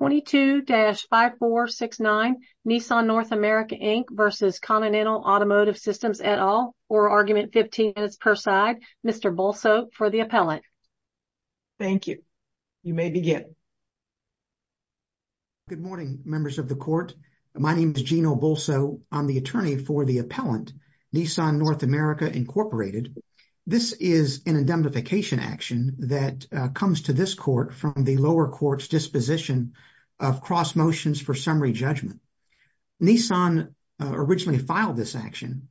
22-5469 Nissan North America Inc. v. Continental Automotive Systems et al. Or argument 15 minutes per side. Mr. Bolso for the appellant. Thank you. You may begin. Good morning members of the court. My name is Gino Bolso. I'm the attorney for the appellant Nissan North America Incorporated. This is an indemnification action that comes to this court from the lower court's disposition of cross motions for summary judgment. Nissan originally filed this action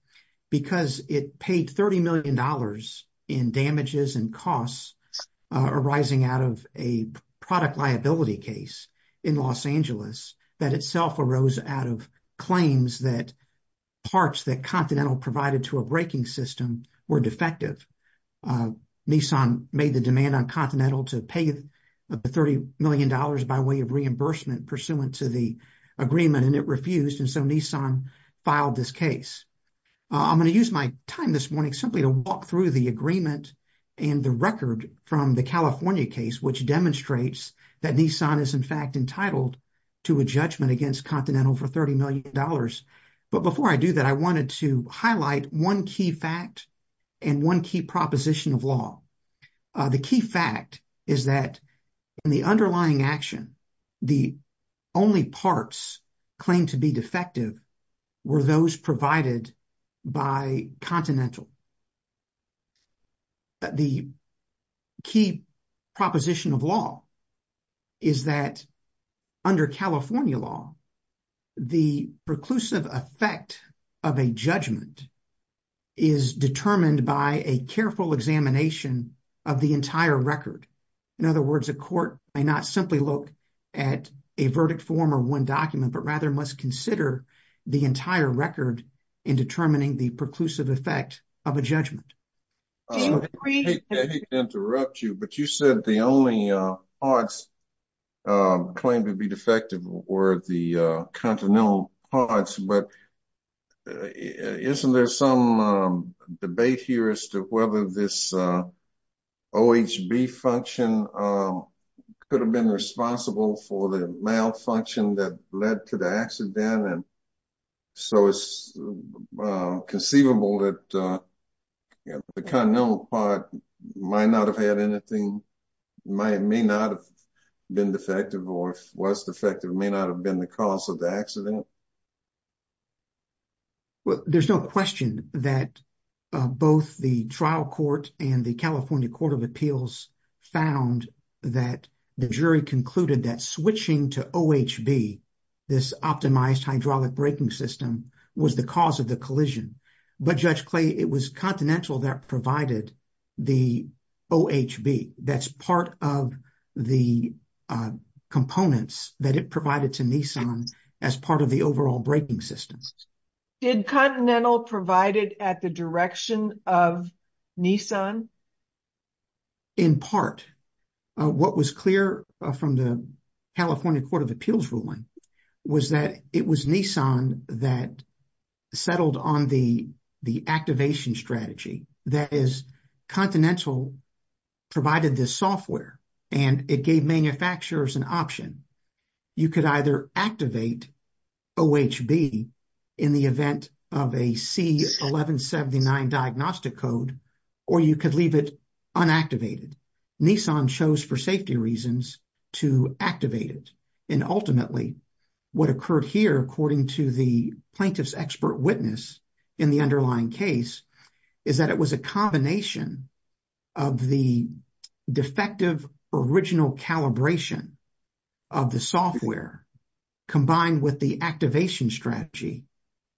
because it paid $30 million in damages and costs arising out of a product liability case in Los Angeles that itself arose out of claims that parts that Continental provided to a braking system were defective. Nissan made the demand on Continental to pay the $30 million by way of reimbursement pursuant to the agreement and it refused and so Nissan filed this case. I'm going to use my time this morning simply to walk through the agreement and the record from the California case which demonstrates that Nissan is in fact entitled to a judgment against Continental for $30 million. But before I do that I wanted to highlight one key fact and one key proposition of law. The key fact is that in the underlying action the only parts claimed to be defective were those provided by Continental. The key proposition of law is that under California law the preclusive effect of a judgment is determined by a careful examination of the entire record. In other words a court may not simply look at a verdict form or one document but rather must consider the entire record in determining the preclusive effect of a judgment. I hate to continental parts but isn't there some debate here as to whether this OHB function could have been responsible for the malfunction that led to the accident and so it's conceivable that the Continental part might not have had anything, may not have been defective or was defective, may not have been the cause of the accident? Well there's no question that both the trial court and the California court of appeals found that the jury concluded that switching to OHB, this optimized hydraulic braking system, was the cause of the collision. But Judge Clay it was Continental that provided the OHB. That's part of the components that it provided to Nissan as part of the overall braking system. Did Continental provide it at the direction of Nissan? In part. What was clear from the California court of appeals ruling was that it was Nissan that settled on the activation strategy. That is Continental provided this software and it gave manufacturers an option. You could either activate OHB in the event of a C1179 diagnostic code or you could leave it unactivated. Nissan chose for safety reasons to activate it and ultimately what occurred here according to the plaintiff's expert witness in the underlying case is that it was a combination of the defective original calibration of the software combined with the activation strategy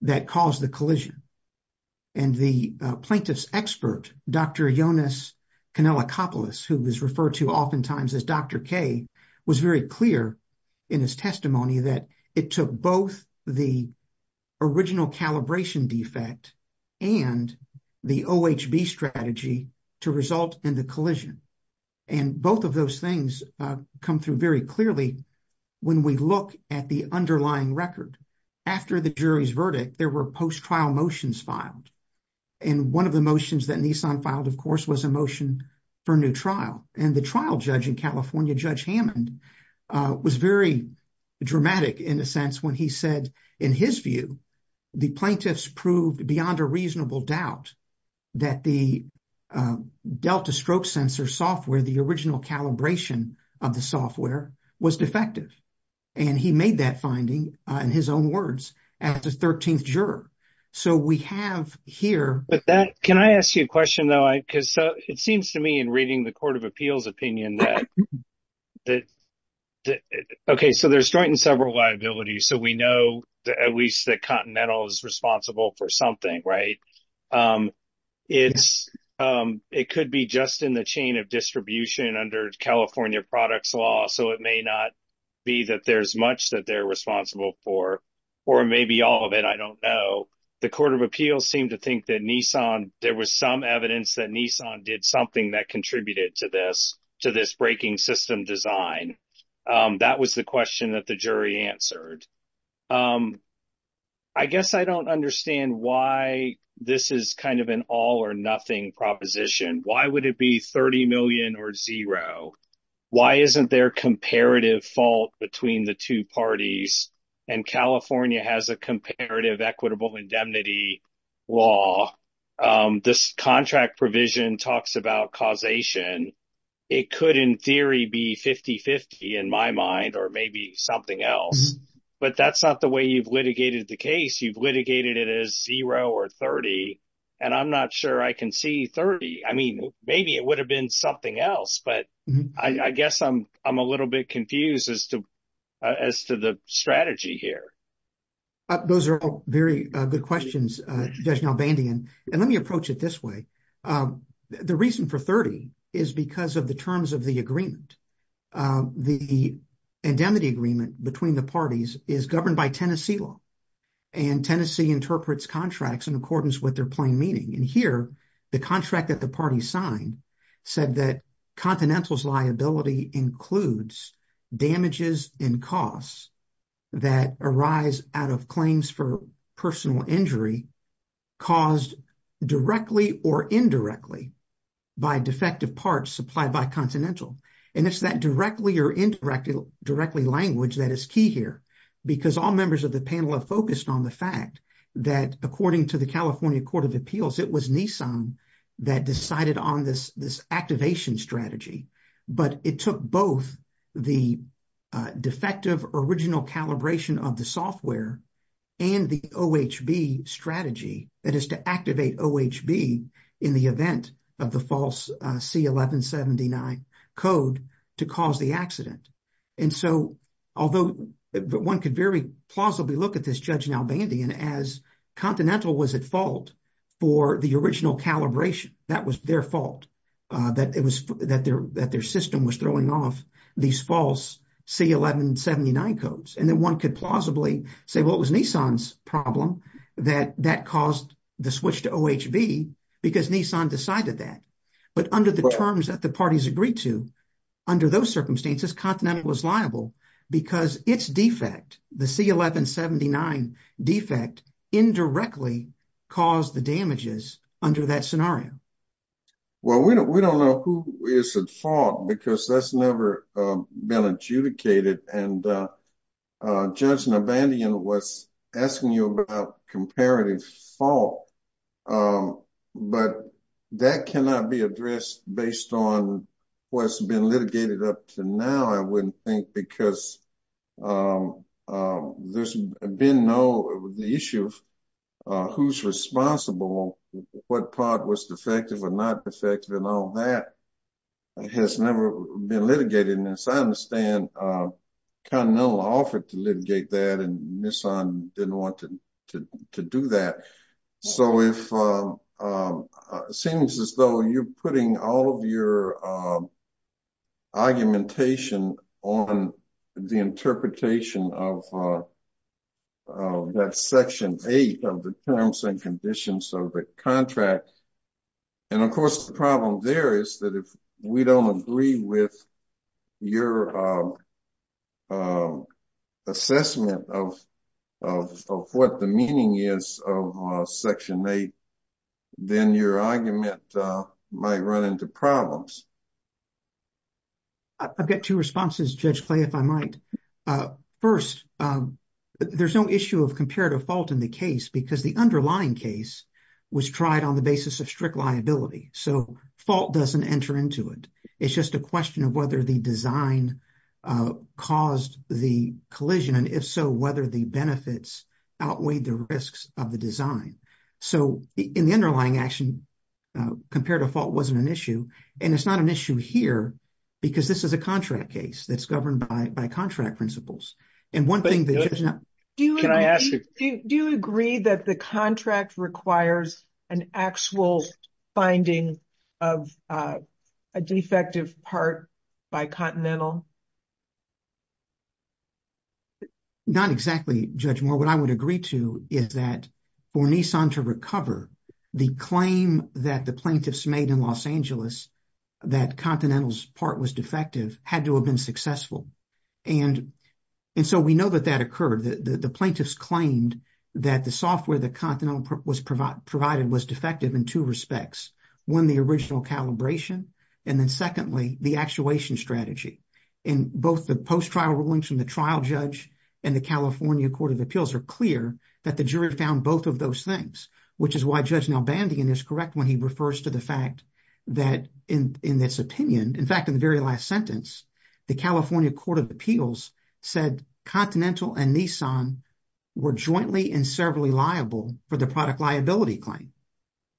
that caused the collision and the plaintiff's expert Dr. Jonas Kanellakopoulos who was referred to oftentimes as Dr. K was very clear in his testimony that it took both the original calibration defect and the OHB strategy to result in the collision. And both of those things come through very clearly when we look at the underlying record. After the jury's verdict there were post-trial motions filed and one of the motions that Nissan filed of course was a motion for a new trial. And the trial judge in California, Judge Hammond, was very dramatic in a sense when he said in his view the plaintiffs proved beyond a reasonable doubt that the Delta Stroke Sensor software, the original calibration of the software, was defective. And he made that finding in his own words as the 13th juror. So we have here... But that, can I ask you a question though? Because it seems to me in reading the Court of Appeals opinion that, okay, so there's joint and several liabilities. So we know at least that Continental is responsible for something, right? It could be just in the chain of distribution under California products law. So it may not be that there's much that they're responsible for. Or maybe all of it, I don't know. The Court of Appeals seemed to think that Nissan, there was some evidence that Nissan did something that contributed to this, to this breaking system design. That was the question that the jury answered. I guess I don't understand why this is kind of an all or nothing proposition. Why would it be $30 million or zero? Why isn't there comparative fault between the two parties? And California has a comparative equitable indemnity law. This contract provision talks about causation. It could in theory be 50-50 in my mind, or maybe something else. But that's not the way you've litigated the case. You've litigated it as zero or 30. And I'm not sure I can see 30. I mean, maybe it would have been something else. But I guess I'm a little bit confused as to the strategy here. Those are all very good questions, Judge Nalbandian. And let me approach it this way. The reason for 30 is because of the terms of the agreement. The indemnity agreement between the parties is governed by Tennessee law. And Tennessee interprets contracts in accordance with their meaning. And here, the contract that the party signed said that Continental's liability includes damages and costs that arise out of claims for personal injury caused directly or indirectly by defective parts supplied by Continental. And it's that directly or indirectly language that is key here. Because all members of the panel have focused on the fact that according to the appeals, it was Nissan that decided on this activation strategy. But it took both the defective original calibration of the software and the OHB strategy, that is to activate OHB in the event of the false C1179 code, to cause the accident. And so although one could very plausibly look at this, Judge Nalbandian, as Continental was at fault for the original calibration, that was their fault, that their system was throwing off these false C1179 codes. And then one could plausibly say, well, it was Nissan's problem that that caused the switch to OHB because Nissan decided that. But under the terms that the parties agreed to, under those circumstances, Continental was liable because its defect, the C1179 defect, indirectly caused the damages under that scenario. Well, we don't know who is at fault because that's never been adjudicated. And Judge Nalbandian was asking you about comparative fault. But that cannot be addressed based on what's been litigated up to now, I wouldn't think, because there's been no, the issue of who's responsible, what part was defective or not defective and all that has never been litigated. And as I understand, Continental offered to litigate that and didn't want to do that. So it seems as though you're putting all of your argumentation on the interpretation of that section eight of the terms and conditions of the contract. And of course, the problem there is that if we don't agree with your assessment of what the meaning is of section eight, then your argument might run into problems. I've got two responses, Judge Clay, if I might. First, there's no issue of comparative fault in the case because the underlying case was tried on the basis of strict liability. So fault doesn't enter into it. It's just a question of whether the design caused the collision. And if so, whether the benefits outweighed the risks of the design. So in the underlying action, comparative fault wasn't an issue. And it's not an issue here because this is a contract case that's governed by contract principles. And one thing- Do you agree that the contract requires an actual finding of a defective part by Continental? Not exactly, Judge Moore. What I would agree to is that for Nissan to recover, the claim that the plaintiffs made in Los Angeles that Continental's part was defective had to have been successful. And so we know that that occurred. The plaintiffs claimed that the software that Continental provided was defective in two respects. One, the original calibration. And then secondly, the actuation strategy. In both the post-trial rulings from the trial judge and the California Court of Appeals are clear that the jury found both of those things, which is why Judge Nalbandian is correct when he refers to the fact that in this opinion, in fact, in the very last sentence, the California Court of Appeals said Continental and Nissan were jointly and severally liable for the product liability claim.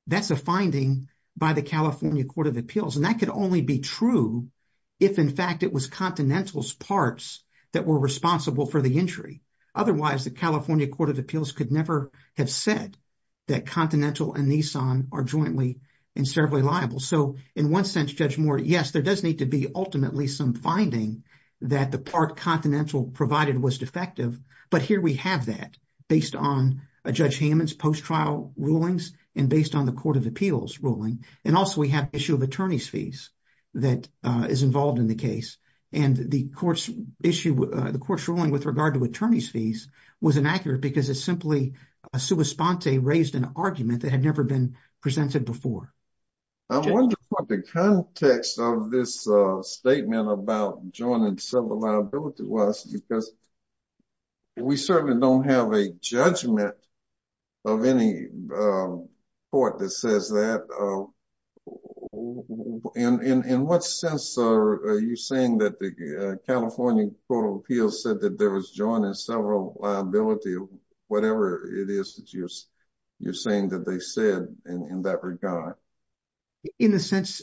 That's a finding by the California Court of Appeals. And that could only be true if, in fact, it was Continental's parts that were responsible for the injury. Otherwise, the California Court of Appeals could never have said that Continental and Nissan are jointly and severally liable. So in one sense, Judge Moore, yes, there does need to be ultimately some finding that the part Continental provided was defective. But here we have that based on Judge Hammond's post-trial rulings and based on the Court of Appeals ruling. And also we have issue of attorney's fees that is involved in the case. And the court's issue, the court's ruling with regard to attorney's fees was inaccurate because it's simply a sua sponte that had never been presented before. I wonder what the context of this statement about joint and several liability was because we certainly don't have a judgment of any court that says that. In what sense are you saying that the California Court of Appeals said that there was joint and several liability, whatever it is that you're saying that they said in that regard? In the sense,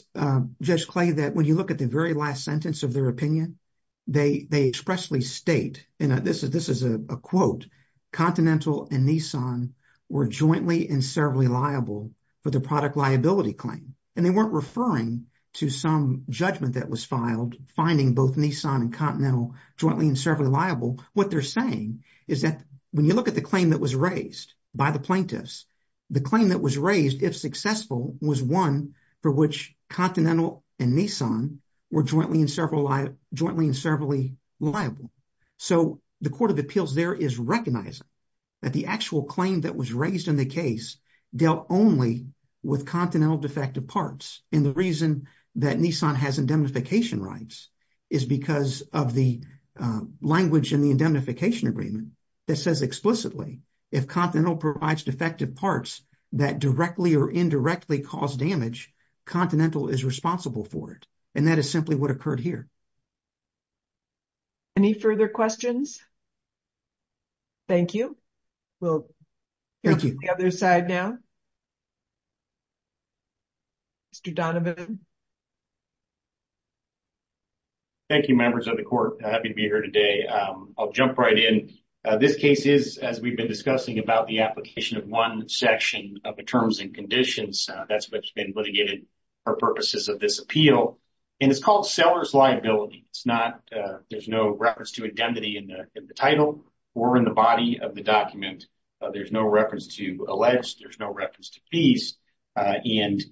Judge Clay, that when you look at the very last sentence of their opinion, they expressly state, and this is a quote, Continental and Nissan were jointly and severally liable for the product liability claim. And they weren't referring to some judgment that was filed, finding both Nissan and Continental jointly and severally liable. What they're saying is that when you look at the claim that was raised by the plaintiffs, the claim that was raised, if successful, was one for which Continental and Nissan were jointly and severally liable. So the Court of Appeals there is recognizing that the actual claim that was raised in the case dealt only with Continental defective parts. And the reason that Nissan has indemnification rights is because of the language in the indemnification agreement that says explicitly if Continental provides defective parts that directly or indirectly cause damage, Continental is responsible for it. And that is simply what occurred here. Any further questions? Thank you. We'll go to the other side now. Mr. Donovan. Thank you, members of the Court. I'm happy to be here today. I'll jump right in. This case is, as we've been discussing, about the application of one section of the terms and conditions. That's what's been litigated for purposes of this appeal. And it's called seller's liability. It's there's no reference to identity in the title or in the body of the document. There's no reference to alleged. There's no reference to fees. And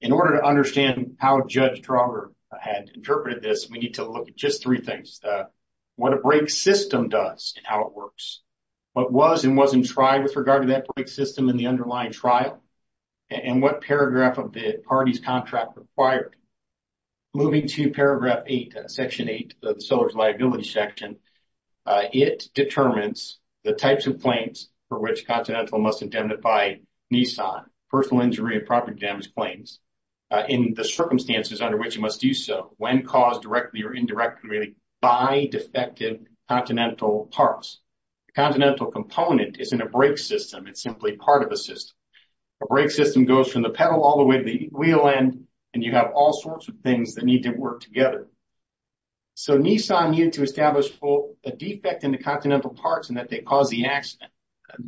in order to understand how Judge Trauger had interpreted this, we need to look at just three things. What a break system does and how it works. What was and wasn't tried with regard to that break system in the underlying trial. And what paragraph of the party's contract required. Moving to paragraph eight, section eight, the seller's liability section. It determines the types of claims for which Continental must indemnify Nissan, personal injury and property damage claims, in the circumstances under which it must do so when caused directly or indirectly by defective Continental parts. The Continental component is in a break system. It's simply part of a system. A break system goes from the pedal all the way to the wheel end. And you have all sorts of things that need to work together. So Nissan needed to establish a defect in the Continental parts and that they caused the accident.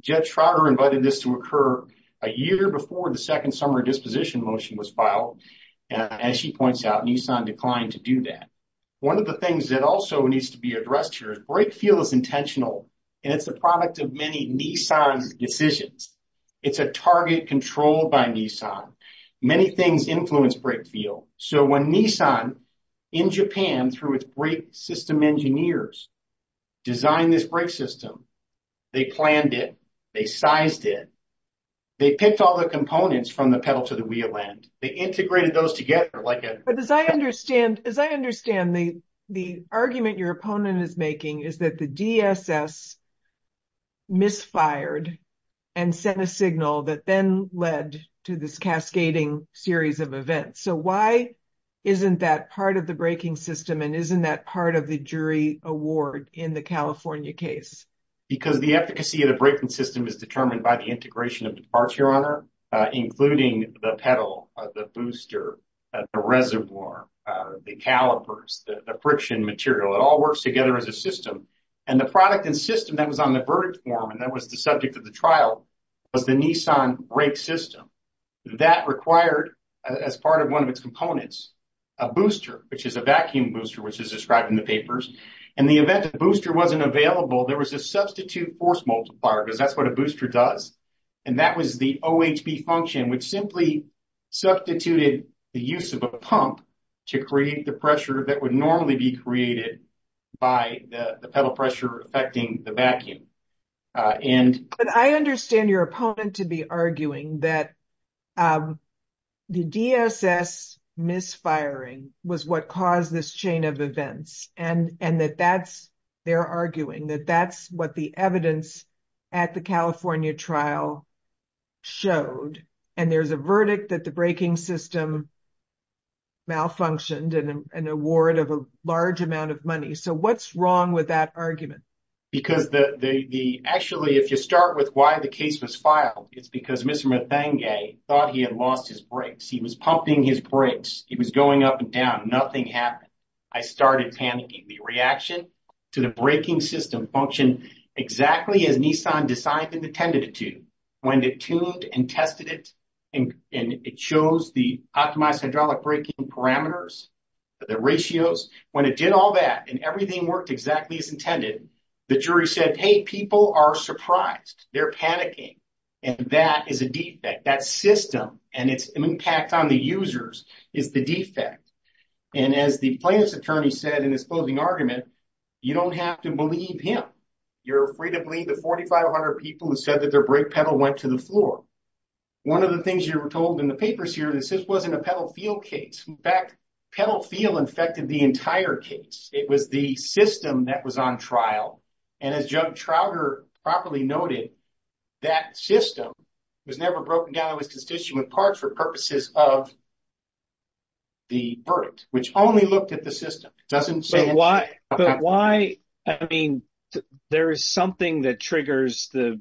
Judge Trauger invited this to occur a year before the second summary disposition motion was filed. And as she points out, Nissan declined to do that. One of the things that also needs to be addressed here is break feel is intentional. And it's the product of many Nissan decisions. It's a target controlled by Nissan. Many things influence break feel. So when Nissan in Japan through its break system engineers designed this break system, they planned it, they sized it, they picked all the components from the pedal to the wheel end. They integrated those together like a... But as I understand, as I understand, Nissan then in the process misfired and sent a signal that then led to this cascading series of events. So why isn't that part of the breaking system and isn't that part of the jury award in the California case? Because the efficacy of the breaking system is determined by the integration of the parts, Your Honor, including the pedal, the booster, the reservoir, the calipers, the friction material. It all works together as a system. And the product and system that was on the verdict form and that was the subject of the trial was the Nissan break system. That required, as part of one of its components, a booster, which is a vacuum booster, which is described in the papers. In the event that the booster wasn't available, there was a substitute force multiplier because that's what a booster does. And that was the OHB function, which simply substituted the use of a pump to create the pressure that would normally be created by the pedal pressure affecting the vacuum. But I understand your opponent to be arguing that the DSS misfiring was what caused this chain of events and that that's... They're arguing that that's what the evidence at the California trial showed. And there's a verdict that the breaking system malfunctioned and an award of a large amount of money. So what's wrong with that argument? Because the... Actually, if you start with why the case was filed, it's because Mr. Mathenge thought he had lost his brakes. He was pumping his brakes. He was going up and down. Nothing happened. I started panicking. The reaction to the braking system functioned exactly as Nissan decided and intended it to. When they tuned and tested it and it shows the optimized hydraulic braking parameters, the ratios, when it did all that and everything worked exactly as intended, the jury said, hey, people are surprised. They're panicking. And that is a defect. That system and its impact on the users is the defect. And as the plaintiff's attorney said in his closing argument, you don't have to believe him. You're free to believe the 4,500 people who said that their brake pedal went to the floor. One of the things you were told in the papers here, this wasn't a pedal feel case. In fact, pedal feel infected the entire case. It was the system that was on trial. And as Joe Trouter properly noted, that system was never broken down. It was constituted with parts for purposes of the verdict, which only looked at the system. It doesn't say... But why... I mean, there is something that triggers the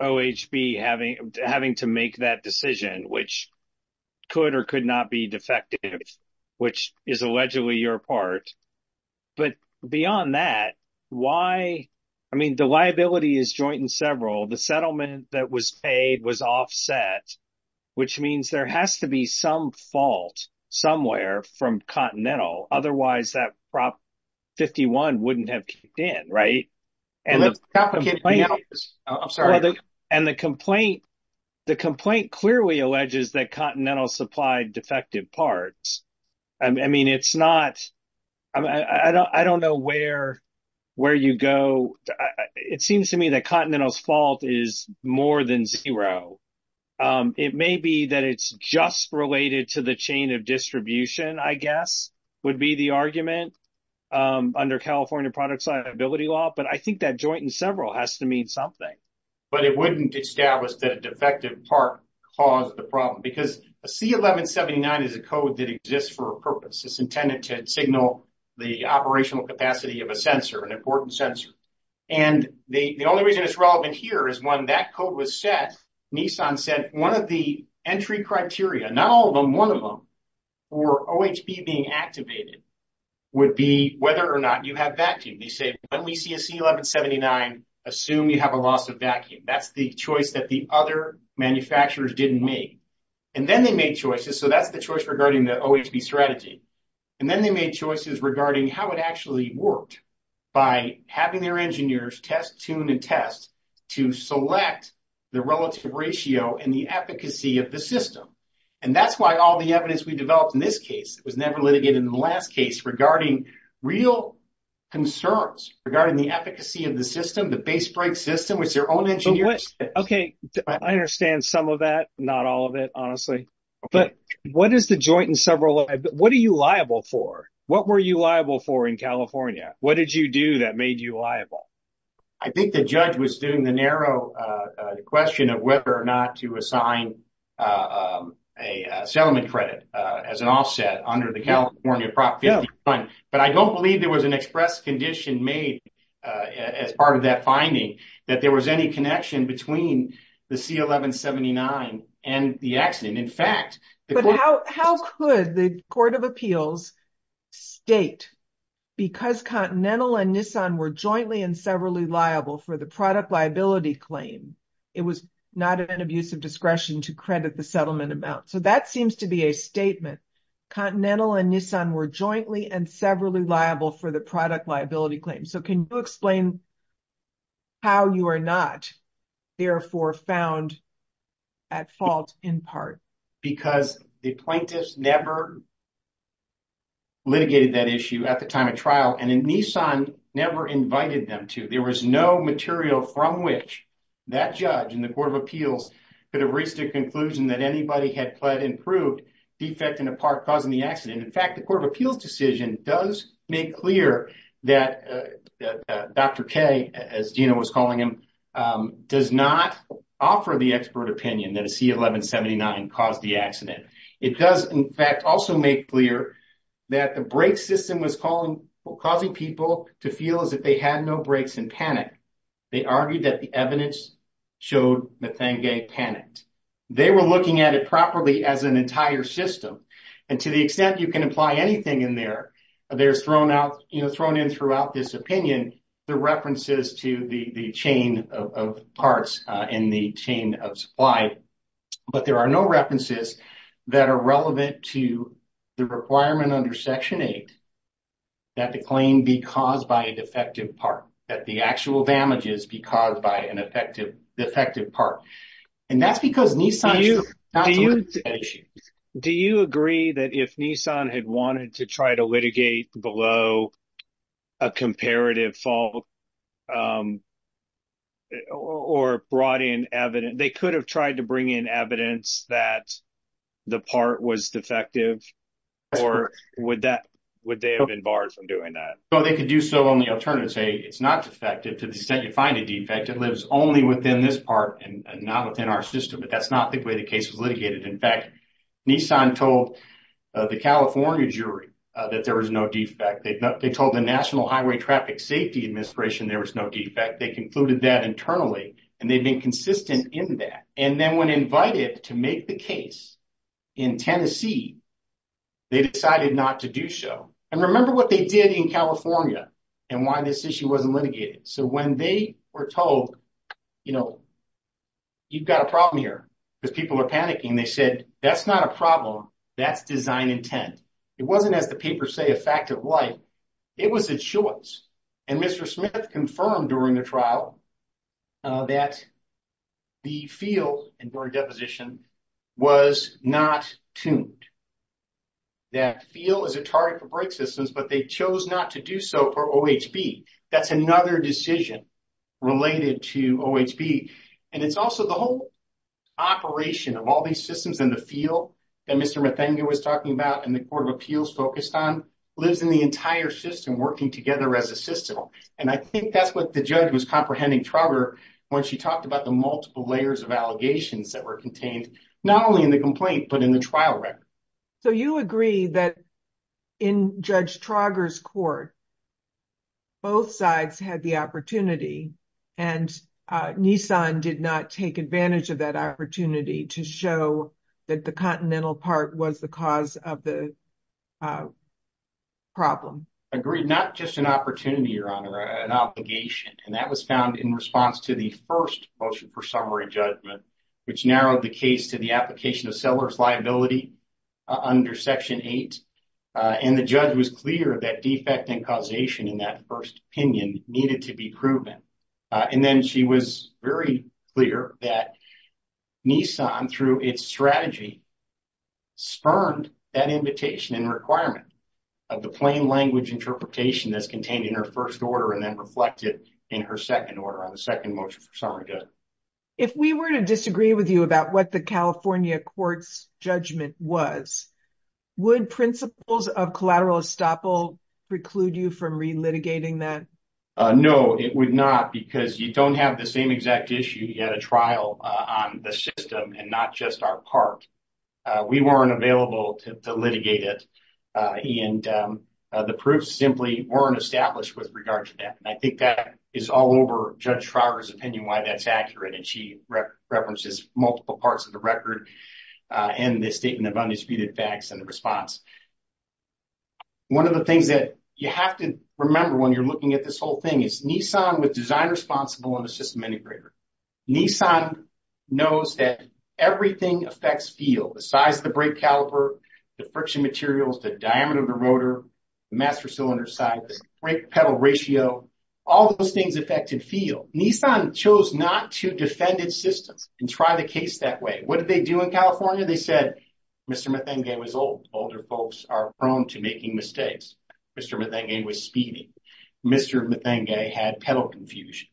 OHB having to make that decision, which could or could not be defective, which is allegedly your part. But beyond that, why... I mean, the liability is joint and several. The settlement that was paid was offset, which means there has to be some fault somewhere from Continental. Otherwise, that Prop 51 wouldn't have kicked in, right? And the complaint clearly alleges that Continental supplied defective parts. I mean, it's not... I don't know where you go. It seems to me that Continental's fault is more than zero. It may be that it's just related to the chain of distribution, I guess, would be the argument under California product liability law. But I think that joint and several has to mean something. But it wouldn't establish that a defective part caused the problem. Because a C1179 is a code that exists for a purpose. It's intended to signal the operational capacity of a sensor, an important sensor. And the only reason it's relevant here is when that code was set, Nissan said, one of the entry criteria, not all of them, one of them, for OHP being activated would be whether or not you have vacuum. They say, when we see a C1179, assume you have a loss of vacuum. That's the choice that the other manufacturers didn't make. And then they made choices. So, that's the choice regarding the OHP strategy. And then they made choices regarding how it actually worked by having their engineers test, tune, and test to select the relative ratio and the efficacy of the system. And that's why all the evidence we developed in this case was never litigated in the last case regarding real concerns regarding the efficacy of the system, the base break system, which their own engineers. Okay. I understand some of that, not all of it, in California. What did you do that made you liable? I think the judge was doing the narrow question of whether or not to assign a settlement credit as an offset under the California Prop 51. But I don't believe there was an express condition made as part of that finding that there was any connection between the C1179 and the accident. But how could the Court of Appeals state, because Continental and Nissan were jointly and severally liable for the product liability claim, it was not an abuse of discretion to credit the settlement amount. So, that seems to be a statement. Continental and Nissan were jointly and severally liable for the product liability claim. So, can you explain how you are not therefore found at fault in part? Because the plaintiffs never litigated that issue at the time of trial and Nissan never invited them to. There was no material from which that judge in the Court of Appeals could have reached a conclusion that anybody had pled and proved defect in a part causing the accident. In fact, the Court of Appeals does not offer the expert opinion that a C1179 caused the accident. It does, in fact, also make clear that the brake system was causing people to feel as if they had no brakes and panic. They argued that the evidence showed Methangay panicked. They were looking at it properly as an entire system. And to the extent you can apply anything in there, there's thrown in throughout this opinion, the references to the chain of parts in the chain of supply. But there are no references that are relevant to the requirement under Section 8 that the claim be caused by a defective part, that the actual damages be caused by an effective defective part. And that's because Nissan should not have litigated that issue. Do you agree that if Nissan had wanted to try to below a comparative fault or brought in evidence, they could have tried to bring in evidence that the part was defective? Or would they have been barred from doing that? Well, they could do so on the alternative, say it's not defective. To the extent you find a defect, it lives only within this part and not within our system. But that's not the way the case was litigated. In fact, Nissan told the California jury that there was no defect. They told the National Highway Traffic Safety Administration there was no defect. They concluded that internally, and they've been consistent in that. And then when invited to make the case in Tennessee, they decided not to do so. And remember what they did in California and why this issue wasn't litigated. So when they were told, you know, you've got a problem here, because people are panicking, they said, that's not a problem. That's design intent. It wasn't, as the papers say, a fact of life. It was a choice. And Mr. Smith confirmed during the trial that the feel and during deposition was not tuned. That feel is a target for brake systems, but they chose not to do so for OHB. That's another decision related to OHB. And it's also the whole operation of all these systems in the feel that Mr. Metheny was talking about and the Court of Appeals focused on lives in the entire system working together as a system. And I think that's what the judge was comprehending, Trauger, when she talked about the multiple layers of allegations that were contained, not only in the complaint, but in the trial record. So you agree that in Judge Trauger's court, both sides had the opportunity and Nissan did not take advantage of that opportunity to show that the continental part was the cause of the problem. Agreed. Not just an opportunity, Your Honor, an obligation. And that was found in response to the first motion for summary judgment, which narrowed the case to the under Section 8. And the judge was clear that defect and causation in that first opinion needed to be proven. And then she was very clear that Nissan, through its strategy, spurned that invitation and requirement of the plain language interpretation that's contained in her first order and then reflected in her second order on the second motion for summary judgment. If we were to disagree with you about what the California court's judgment was, would principles of collateral estoppel preclude you from re-litigating that? No, it would not, because you don't have the same exact issue. You had a trial on the system and not just our part. We weren't available to litigate it. And the proofs simply weren't established with regard to that. And I think that is all over Judge Trauger's opinion why that's accurate. And she references multiple parts of the record and the statement of undisputed facts and the response. One of the things that you have to remember when you're looking at this whole thing is Nissan was design responsible on the system integrator. Nissan knows that everything affects feel. The size of the brake caliber, the friction materials, the diameter of the rotor, the master cylinder size, the brake pedal ratio, all those things affected feel. Nissan chose not to defend its systems and try the case that way. What did they do in California? They said, Mr. Methenge was old. Older folks are prone to making mistakes. Mr. Methenge was speedy. Mr. Methenge had pedal confusion.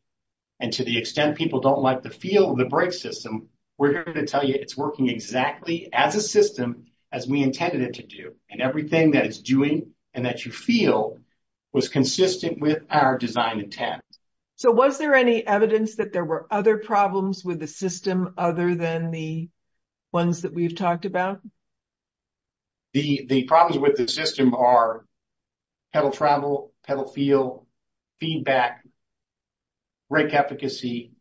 And to the extent people don't like the feel of the brake system, we're here to tell you it's working exactly as a system as we intended it to do. And everything that it's doing and that you feel was consistent with our design intent. So was there any evidence that there were other problems with the system other than the ones that we've talked about? The problems with the system are pedal travel, pedal feel, feedback, brake efficacy,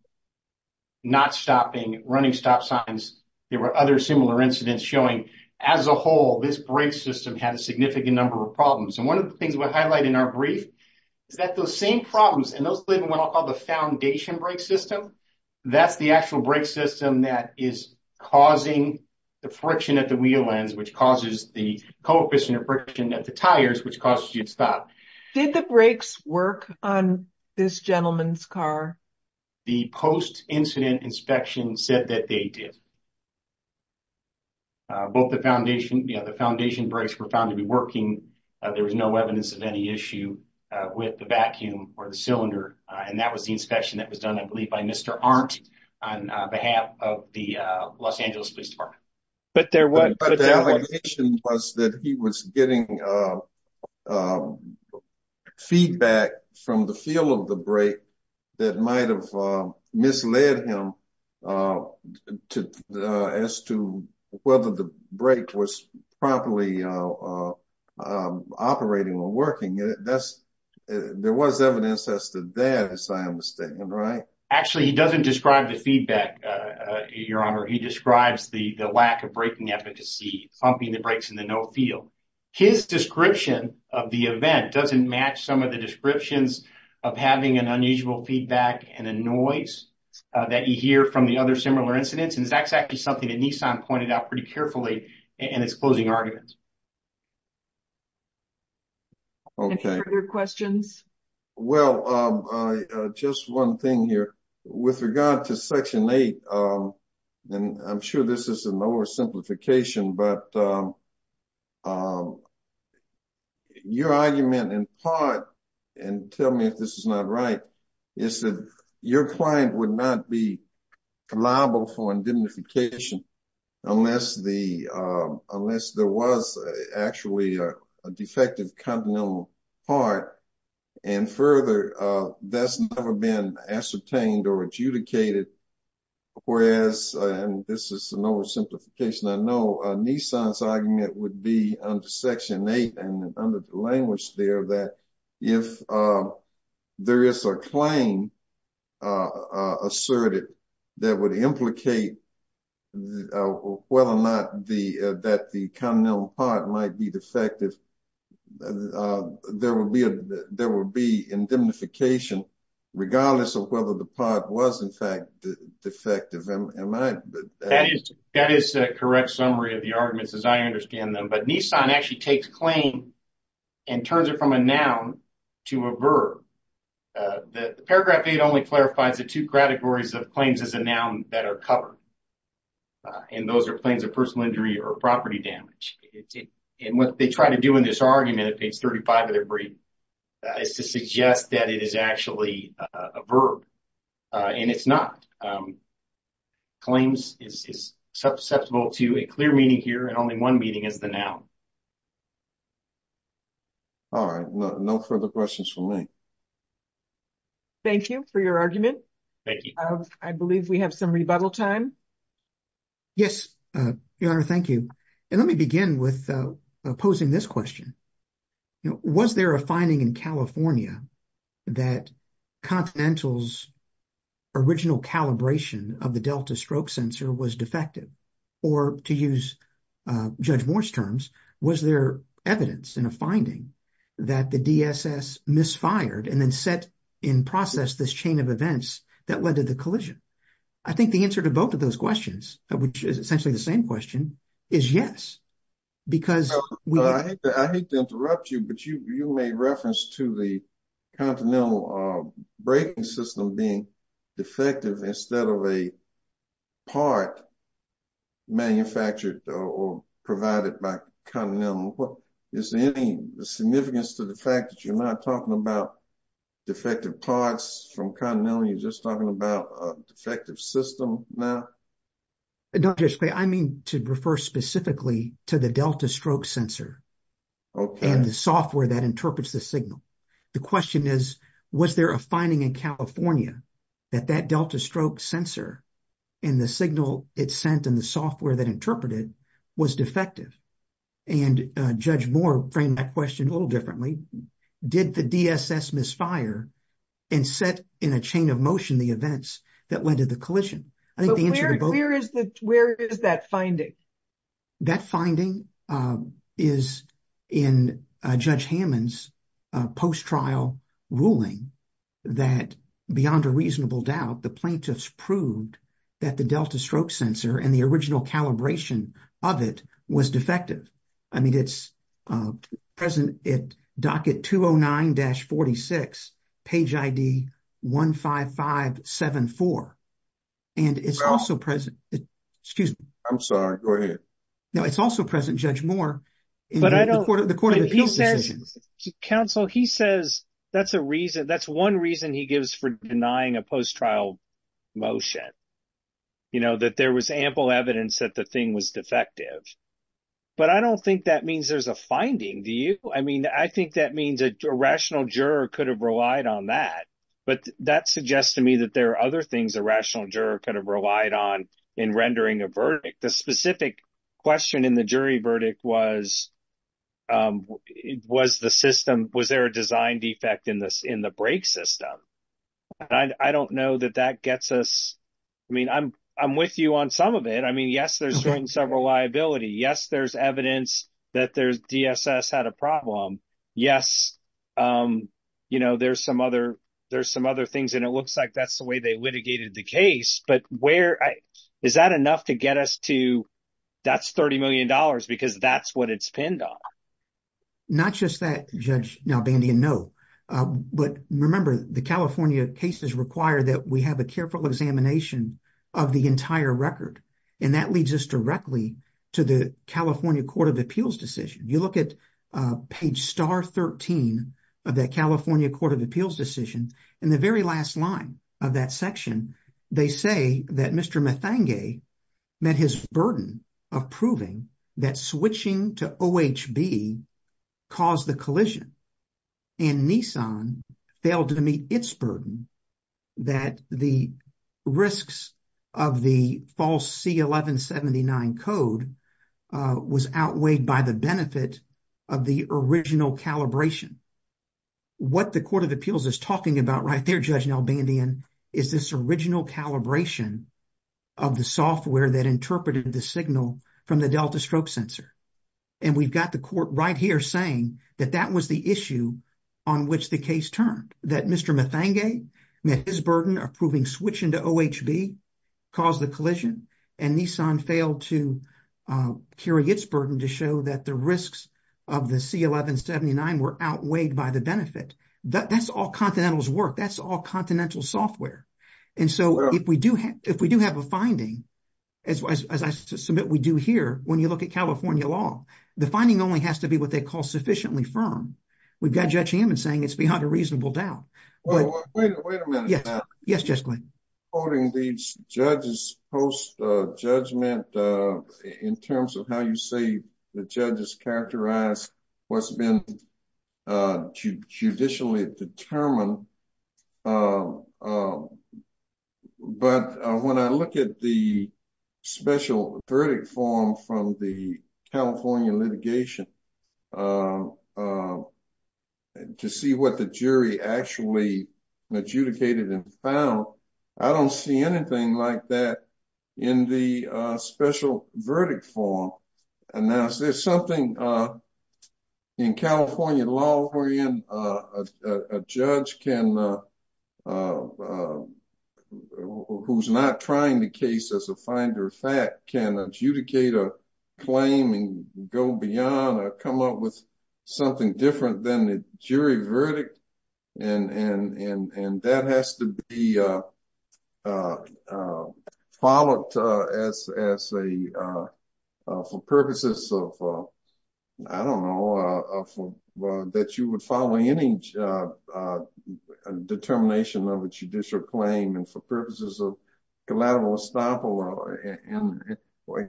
not stopping, running stop signs. There were other similar incidents showing as a whole this brake system had a significant number of problems. And one of the things we highlight in our brief is that those same problems, and those live in what I'll call the foundation brake system, that's the actual brake system that is causing the friction at the wheel ends, which causes the coefficient of friction at the tires, which causes you to stop. Did the brakes work on this gentleman's car? The post-incident inspection said that they did. Both the foundation, you know, the foundation brakes were found to be working. There was no evidence of any issue with the vacuum or the cylinder. And that was the inspection that was done, I believe, by Mr. Arndt on behalf of the Los Angeles Police Department. But the allegation was that he was getting feedback from the feel of the brake that might have misled him as to whether the brake was properly operating or working. There was evidence as to that, as I am mistaken, right? Actually, he doesn't describe the feedback, Your Honor. He describes the lack of braking efficacy, pumping the brakes in the no field. His description of the event doesn't match some of the descriptions of having an unusual feedback and a noise that you hear from the other similar incidents. And that's actually something that Nissan pointed out pretty carefully in its closing arguments. Any further questions? Well, just one thing here. With regard to Section 8, and I'm sure this is an oversimplification, but your argument in part, and tell me if this is not right, is that your client would not be liable for indemnification unless there was actually a defective continental part. And further, that's never been ascertained or adjudicated. Whereas, and this is an oversimplification, I know Nissan's argument would be under Section 8 and under the language there that if there is a claim asserted that would implicate whether or not that the continental part might be defective, there would be indemnification regardless of whether the part was in fact defective. That is a correct summary of the arguments as I understand them. But Nissan actually takes claim and turns it from a noun to a verb. Paragraph 8 only clarifies the two categories of claims as a noun that are covered. And those are claims of personal injury or property damage. And what they try to do in this argument at page 35 of their brief is to suggest that it is actually a verb. And it's not. Claims is susceptible to a clear meaning here, and only one meaning is the noun. All right. No further questions for me. Thank you for your argument. I believe we have some rebuttal time. Yes, Your Honor. Thank you. And let me begin with posing this question. Was there a finding in California that Continental's original calibration of the Delta stroke sensor was defective? Or to use Judge Moore's terms, was there evidence in a finding that the DSS misfired and then set in process this chain of events that led to the collision? I think the answer to both of those questions, which is essentially the same question, is yes. I hate to interrupt you, but you made reference to the Continental braking system being defective instead of a part manufactured or provided by Continental. Is there any significance to the fact that you're not talking about defective parts from Continental? You're just talking about a defective system now? No, Judge Clay. I mean to refer specifically to the Delta stroke sensor and the software that interprets the signal. The question is, was there a finding in California that that Delta stroke sensor and the signal it sent and the software that interpreted was defective? And Judge Moore framed that question a little differently. Did the DSS misfire and set in a chain of motion the events that led to the collision? Where is that finding? That finding is in Judge Hammond's post-trial ruling that beyond a reasonable doubt, the plaintiffs proved that the Delta stroke sensor and the original calibration of it was defective. I mean, it's present at docket 209-46, page ID 15574. And it's also present. Excuse me. I'm sorry. Go ahead. No, it's also present, Judge Moore, in the Court of Appeals decision. Counsel, he says that's a reason. That's one reason he gives for denying a post-trial motion, you know, that there was ample evidence that the thing was defective. But I don't think that means there's a finding, do you? I mean, I think that means a rational juror could have relied on that. But that suggests to me that there are other things a rational juror could have relied on in rendering a verdict. The specific question in the jury verdict was, was the system, was there a design defect in the brake system? And I don't know that that gets us, I mean, I'm with you on some of it. I mean, yes, there's certain several liability. Yes, there's evidence that there's DSS had a problem. Yes, you know, there's some other things. And it looks like that's the way they litigated the case. But where, is that enough to get us to, that's $30 million because that's what it's pinned on. Not just that, Judge Nalbandian, no. But remember, the California cases require that we have a careful examination of the entire record. And that leads us directly to the California Court of Appeals decision. You look at page star 13 of that California Court of Appeals decision, in the very last line of that section, they say that Mr. Methange met his burden of proving that switching to OHB caused the collision. And Nissan failed to meet its burden that the risks of the false C-1179 code was outweighed by the benefit of the original calibration. What the Court of Appeals is talking about right there, Judge Nalbandian, is this original calibration of the software that interpreted the signal from the delta stroke sensor. And we've got the court right here saying that that was the issue on which the case turned. That Mr. Methange met his burden of proving switching to OHB caused the collision, and Nissan failed to carry its burden to show that the risks of the C-1179 were outweighed by the benefit. That's all Continental's work. That's all Continental software. And so if we do have a finding, as I submit we do here, when you look at California law, the finding only has to be what they call sufficiently firm. We've got Judge Hammond saying it's beyond a reasonable doubt. Wait a minute, Pat. Yes, Judge Glynn. Quoting these judges post-judgment in terms of how you say the judges characterize what's been judicially determined, but when I look at the special verdict form from the California litigation to see what the jury actually adjudicated and found, I don't see anything like that in the special verdict form. And there's something in California law wherein a judge who's not trying the case as a finder of fact can adjudicate a claim and go beyond or come up with something different than the jury verdict. And that has to be followed for purposes of, I don't know, that you would follow any determination of a judicial claim and for purposes of collateral estoppel.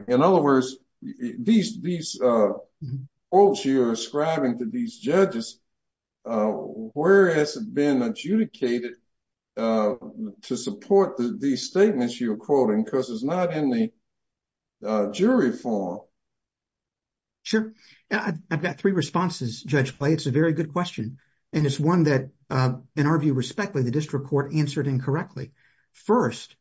In other words, these quotes you're ascribing to these judges, where has it been adjudicated to support these statements you're quoting? Because it's not in the statute. Sure. I've got three responses, Judge Clay. It's a very good question. And it's one that, in our view, respectfully, the district court answered incorrectly. First,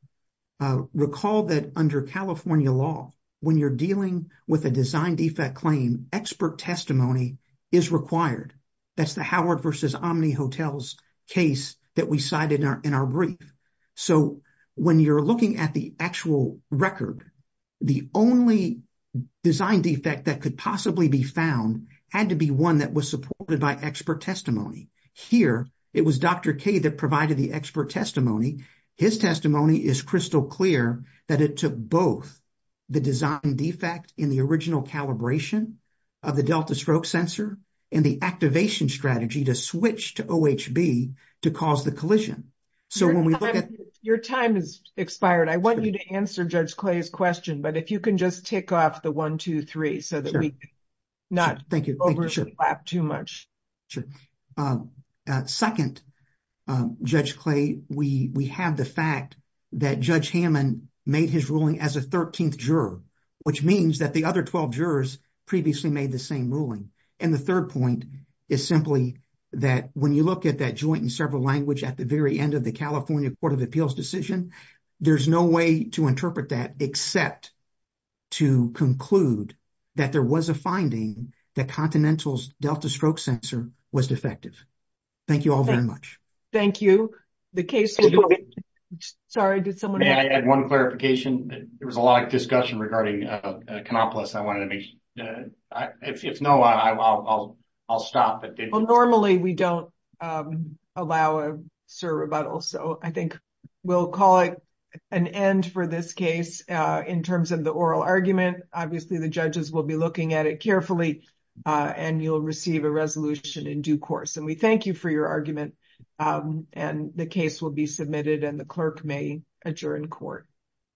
recall that under California law, when you're dealing with a design defect claim, expert testimony is required. That's the Howard versus Omni Hotels case that we cited in our brief. So, when you're looking at the actual record, the only design defect that could possibly be found had to be one that was supported by expert testimony. Here, it was Dr. K that provided the expert testimony. His testimony is crystal clear that it took both the design defect in the original calibration of the delta stroke sensor and the activation strategy to switch to OHB to cause the collision. Your time has expired. I want you to answer Judge Clay's question, but if you can just tick off the 1, 2, 3 so that we not overlap too much. Second, Judge Clay, we have the fact that Judge Hammond made his ruling as a 13th juror, which means that the other 12 jurors previously made the same ruling. And the third point is that when you look at that joint in several languages at the very end of the California Court of Appeals decision, there's no way to interpret that except to conclude that there was a finding that Continental's delta stroke sensor was defective. Thank you all very much. Thank you. The case... Sorry, did someone... May I add one clarification? There was a lot of discussion regarding Kanopolis. I wanted to make... If no, I'll stop. Normally, we don't allow a sur rebuttal, so I think we'll call it an end for this case in terms of the oral argument. Obviously, the judges will be looking at it carefully and you'll receive a resolution in due course. And we thank you for your argument and the case will be submitted and the clerk may adjourn court.